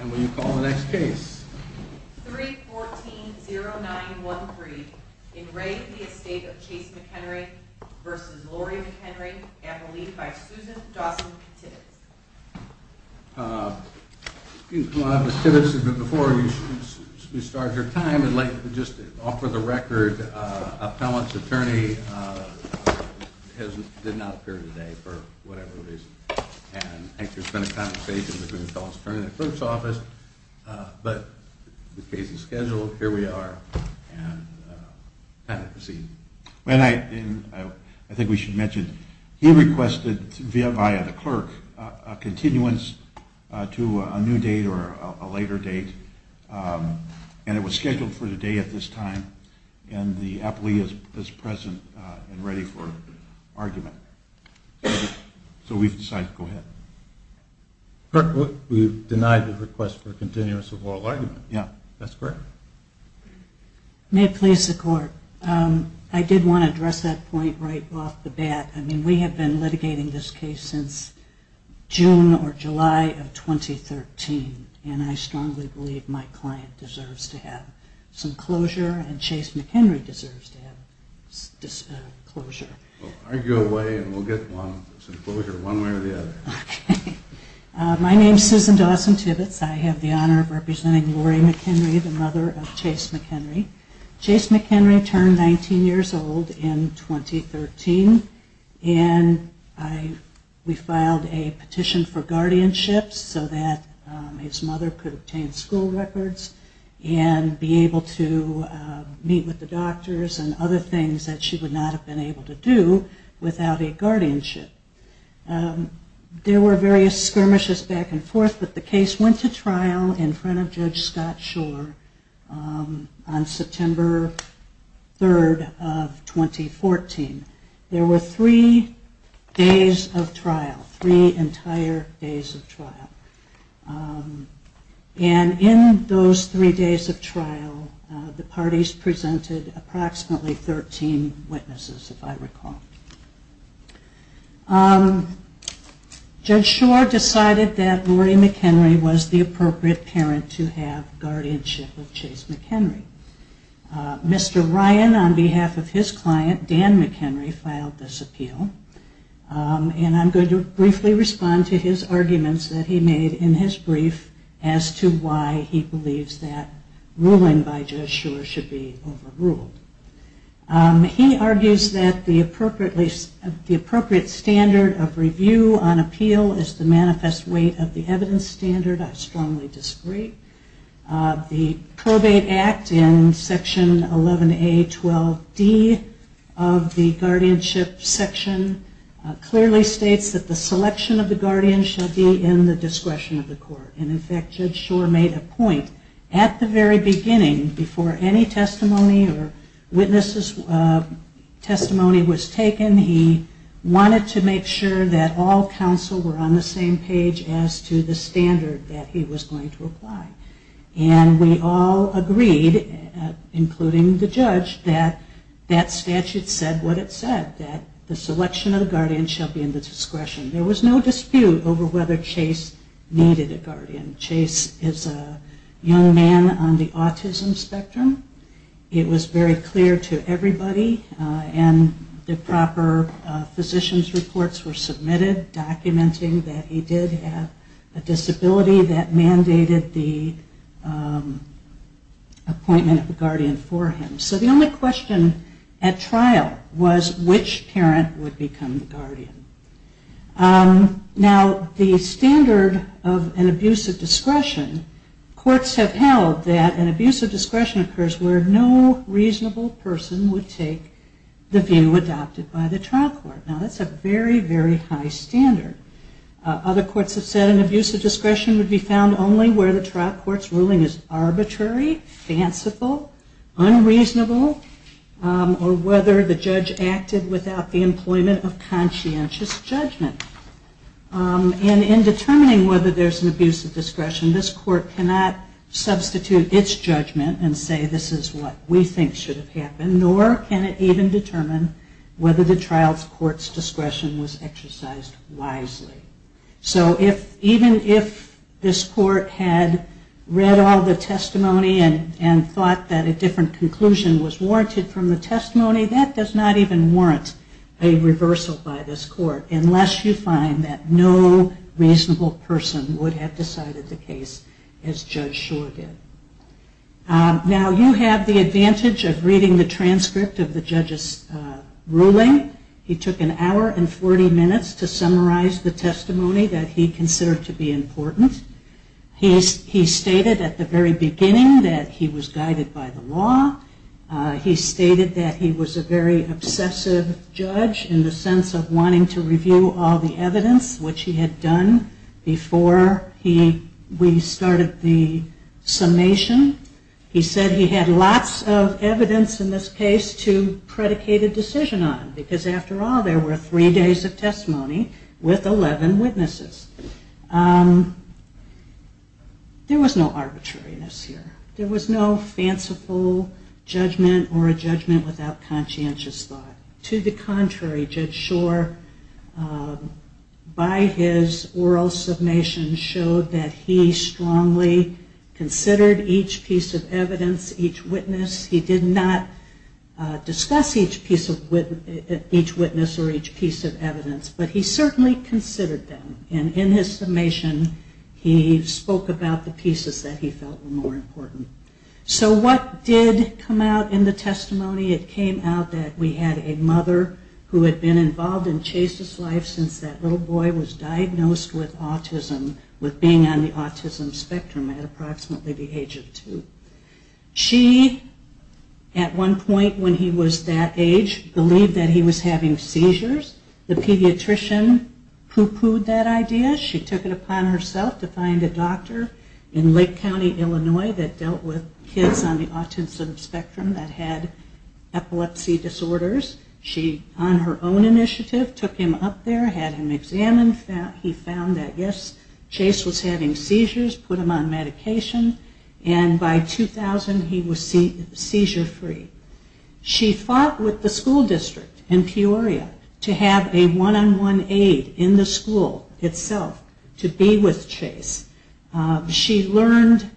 And will you call the next case? 3-14-09-13, in re Estate of Chase McHenry v. Lori McHenry, and relieved by Susan Dawson Tibbetts. Excuse me, Ms. Tibbetts, but before you start your time, I'd like to just offer the record. Appellant's attorney did not appear today for whatever reason, and I think there's been a conversation between the appellant's attorney and the clerk's office. But the case is scheduled, here we are, and time to proceed. And I think we should mention, he requested via the clerk a continuance to a new date or a later date, and it was scheduled for today at this time, and the appellee is present and ready for argument. So we've decided to go ahead. Clerk, we've denied the request for a continuance of oral argument. Yeah, that's correct. May it please the court. I did want to address that point right off the bat. I mean, we have been litigating this case since June or July of 2013, and I strongly believe my client deserves to have some closure, and Chase McHenry deserves to have closure. Well, argue away, and we'll get some closure one way or the other. My name is Susan Dawson Tibbetts. I have the honor of representing Lori McHenry, the mother of Chase McHenry. Chase McHenry turned 19 years old in 2013, and we filed a petition for guardianship so that his mother could obtain school records and be able to meet with the doctors and other things that she would not have been able to do without a guardianship. There were various skirmishes back and forth, but the case went to trial in front of Judge Scott Schor on September 3rd of 2014. There were three days of trial, three entire days of trial, and in those three days of trial, the parties presented approximately 13 witnesses, if I recall. Judge Schor decided that Lori McHenry was the appropriate parent to have guardianship of Chase McHenry. Mr. Ryan, on behalf of his client, Dan McHenry, filed this appeal, and I'm going to briefly respond to his arguments that he made in his brief as to why he believes that ruling by Judge Schor should be overruled. He argues that the appropriate standard of review on appeal is the manifest weight of the evidence standard. I strongly disagree. The Probate Act in Section 11A.12.D. of the guardianship section clearly states that the selection of the guardian should be in the discretion of the court. And in fact, Judge Schor made a point at the very beginning, before any testimony or witnesses' testimony was taken, he wanted to make sure that all counsel were on the same page as to the standard that he was going to apply. And we all agreed, including the judge, that that statute said what it said, that the selection of the guardian shall be in the discretion. There was no dispute over whether Chase needed a guardian. Chase is a young man on the autism spectrum. It was very clear to everybody, and the proper physician's reports were submitted documenting that he did have a disability that mandated the appointment of a guardian for him. So the only question at trial was which parent would become the guardian. Now, the standard of an abuse of discretion, courts have held that an abuse of discretion occurs where no reasonable person would take the view adopted by the trial court. Now, that's a very, very high standard. Other courts have said an abuse of discretion would be found only where the trial court's ruling is arbitrary, fanciful, unreasonable, or whether the judge acted without the employment of conscientious judgment. And in determining whether there's an abuse of discretion, this court cannot substitute its judgment and say this is what we think should have happened, nor can it even determine whether the trial court's discretion was exercised wisely. So even if this court had read all the testimony and thought that a different conclusion was warranted from the testimony, that does not even warrant a reversal by this court, unless you find that no reasonable person would have decided the case as Judge Schor did. Now, you have the advantage of reading the transcript of the judge's ruling. He took an hour and 40 minutes to summarize the testimony that he considered to be important. He stated at the very beginning that he was guided by the law. He stated that he was a very obsessive judge in the sense of wanting to review all the evidence, which he had done before we started the summation. He said he had lots of evidence in this case to predicate a decision on, because after all, there were three days of testimony with 11 witnesses. There was no arbitrariness here. There was no fanciful judgment or a judgment without conscientious thought. To the contrary, Judge Schor, by his oral summation, showed that he strongly considered each case to be impartial, impartial, impartial, and impartial. He did not discuss each piece of evidence, each witness. He did not discuss each witness or each piece of evidence, but he certainly considered them. And in his summation, he spoke about the pieces that he felt were more important. So what did come out in the testimony? It came out that we had a mother who had been involved in Chase's life since that little boy was diagnosed with autism, with being on the autism spectrum at approximately the age of 10. She, at one point when he was that age, believed that he was having seizures. The pediatrician pooh-poohed that idea. She took it upon herself to find a doctor in Lake County, Illinois, that dealt with kids on the autism spectrum that had epilepsy disorders. She, on her own initiative, took him up there, had him examined. He found that, yes, Chase was having seizures, put him on medication, and by the time he was diagnosed, he was on medication. By 2000, he was seizure-free. She fought with the school district in Peoria to have a one-on-one aid in the school itself to be with Chase. She learned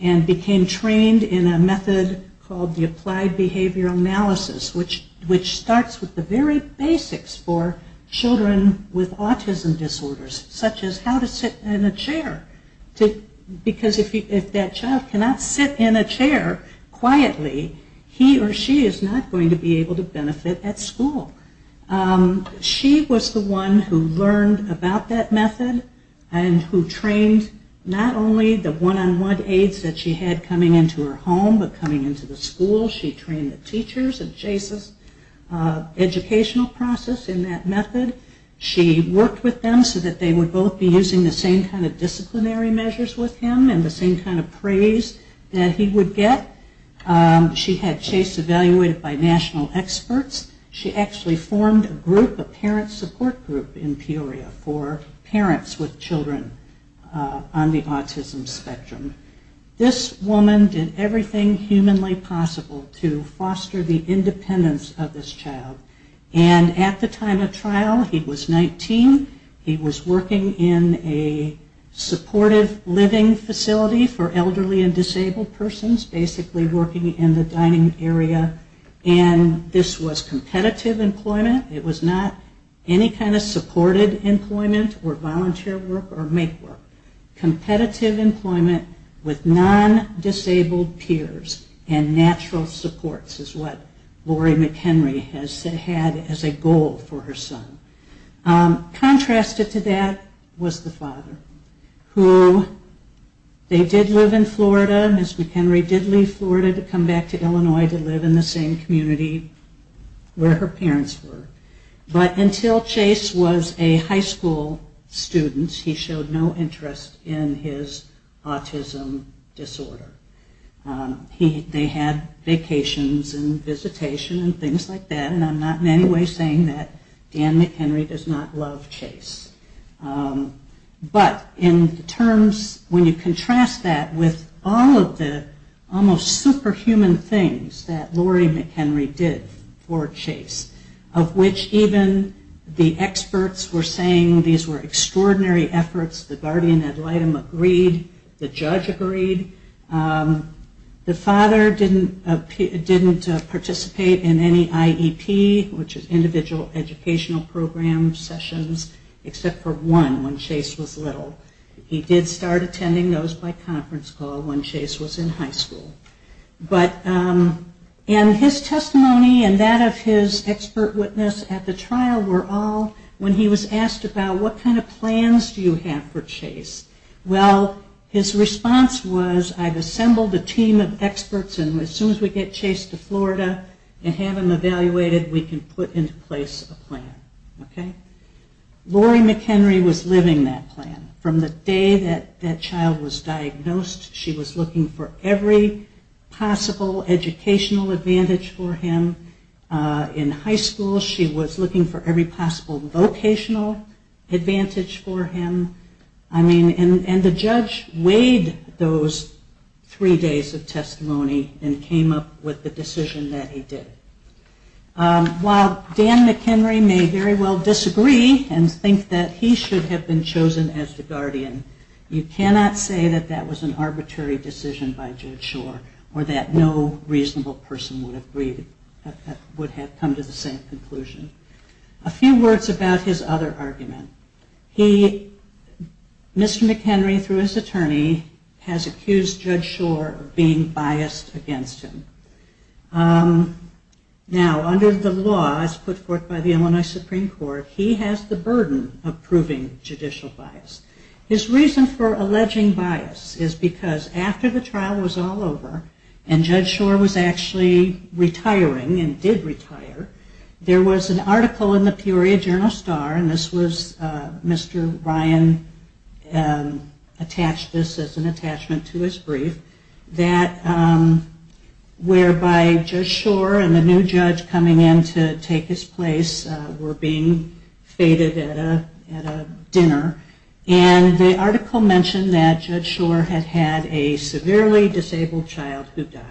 and became trained in a method called the applied behavioral analysis, which starts with the very basics for children with autism disorders, such as how to sit in a chair. Because if that child cannot sit in a chair quietly, he or she is not going to be able to benefit at school. She was the one who learned about that method and who trained not only the one-on-one aids that she had coming into her home but coming into the school. She trained the teachers of Chase's educational process in that method. She worked with them so that they would both be using the same kind of disciplinary measures with him and the same kind of praise that he would get. She had Chase evaluated by national experts. She actually formed a group, a parent support group, in Peoria for parents with children on the autism spectrum. This woman did everything humanly possible to foster the independence of this child. At the time of trial, he was 19. He was working in a supportive living facility for elderly and disabled persons, basically working in the dining area. This was competitive employment. It was not any kind of supported employment or volunteer work or make work. Competitive employment with non-disabled peers and natural supports is what Lori McHenry has said. She had a goal for her son. Contrasted to that was the father. They did live in Florida. Ms. McHenry did leave Florida to come back to Illinois to live in the same community where her parents were. But until Chase was a high school student, he showed no interest in his autism disorder. They had vacations and visitation and things like that. I'm not in any way saying that Dan McHenry does not love Chase. But in terms, when you contrast that with all of the almost superhuman things that Lori McHenry did for Chase, of which even the experts were saying these were extraordinary efforts. The guardian ad litem agreed. The judge agreed. The father didn't participate in any IEP. Which is individual educational program sessions, except for one when Chase was little. He did start attending those by conference call when Chase was in high school. And his testimony and that of his expert witness at the trial were all when he was asked about what kind of plans do you have for Chase. Well, his response was, I've assembled a team of experts and we have a plan that we can put into place a plan. Okay? Lori McHenry was living that plan. From the day that child was diagnosed, she was looking for every possible educational advantage for him. In high school, she was looking for every possible vocational advantage for him. And the judge weighed those three days of trial. While Dan McHenry may very well disagree and think that he should have been chosen as the guardian, you cannot say that that was an arbitrary decision by Judge Schor or that no reasonable person would have come to the same conclusion. A few words about his other argument. Mr. McHenry, through his attorney, has accused Judge Schor of being biased against him. Now, under the laws put forth by the Illinois Supreme Court, he has the burden of proving judicial bias. His reason for alleging bias is because after the trial was all over and Judge Schor was actually retiring and did retire, there was an article in the Peoria Journal Star, and this was Mr. Ryan attached this as an attachment to his brief, that Judge Schor had been accused of being biased against him. And that was the reason for his retirement, whereby Judge Schor and the new judge coming in to take his place were being feted at a dinner. And the article mentioned that Judge Schor had had a severely disabled child who died.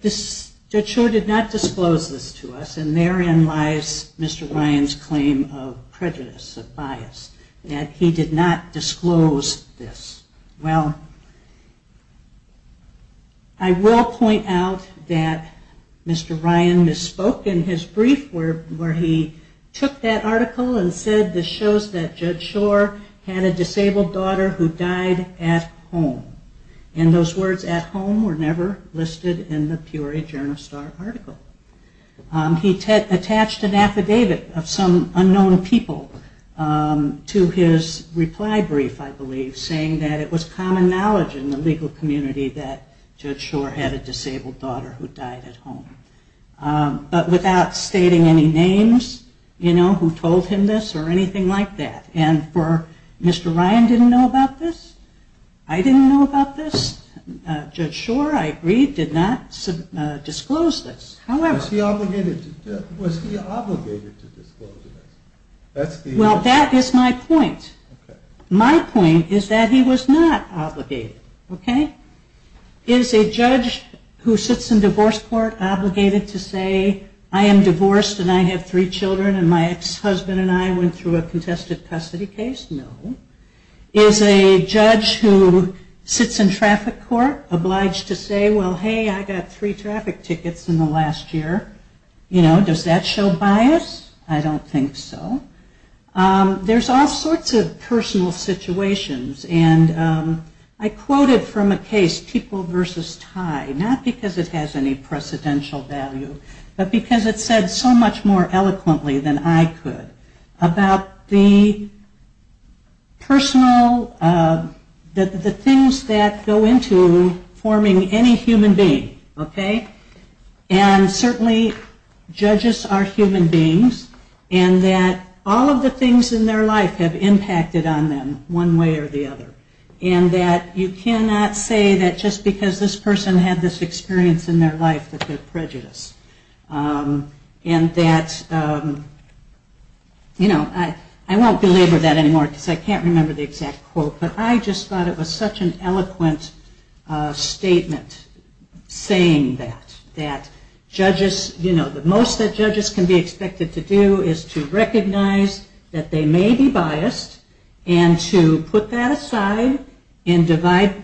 Judge Schor did not disclose this to us, and therein lies Mr. Ryan's claim of prejudice, of bias, that he did not have. I will point out that Mr. Ryan misspoke in his brief where he took that article and said this shows that Judge Schor had a disabled daughter who died at home. And those words at home were never listed in the Peoria Journal Star article. He attached an affidavit of some unknown people to his reply brief, I believe it was a judge in the legal community that Judge Schor had a disabled daughter who died at home. But without stating any names, you know, who told him this or anything like that. And for Mr. Ryan didn't know about this, I didn't know about this, Judge Schor, I agree, did not disclose this. However... Was he obligated to disclose this? Okay. Is a judge who sits in divorce court obligated to say, I am divorced and I have three children and my ex-husband and I went through a contested custody case? No. Is a judge who sits in traffic court obliged to say, well, hey, I got three traffic tickets in the last year? You know, does that show bias? I don't think so. There's all sorts of personal situations. And I quote a judge who says, I have three traffic tickets in the last year. And I quoted from a case, People v. Ty, not because it has any precedential value, but because it said so much more eloquently than I could about the personal, the things that go into forming any human being. Okay? And certainly judges are human beings and that all of the things in their life have impacted on them one way or the other. And that you cannot say that just because this person had this experience in their life that they're prejudiced. And that, you know, I won't belabor that anymore because I can't remember the exact quote, but I just thought it was such an eloquent statement saying that. That judges, you know, the most that judges can be expected to do is to recognize that they may be biased and to put that aside and decide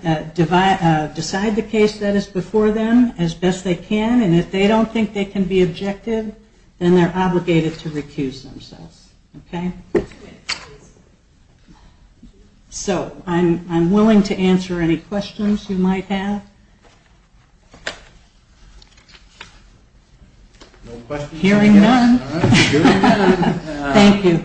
the case that is before them as best they can. And if they don't think they can be objective, then they're obligated to recuse themselves. Okay? So I'm willing to answer any questions you might have. Hearing none. Thank you.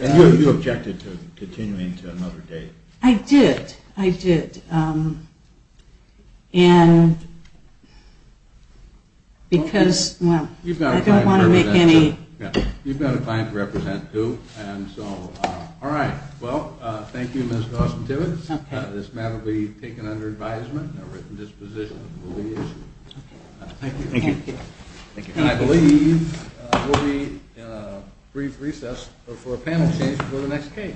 And you objected to continuing to another date. I did. I did. And because, well, I don't want to make any... You've got a fine to represent too. And so, all right. Well, thank you, Ms. Austin-Tibbitts. This matter will be taken under advisement. A written disposition will be issued. Thank you. And I believe we'll be in a brief recess. We're for a panel change before the next case.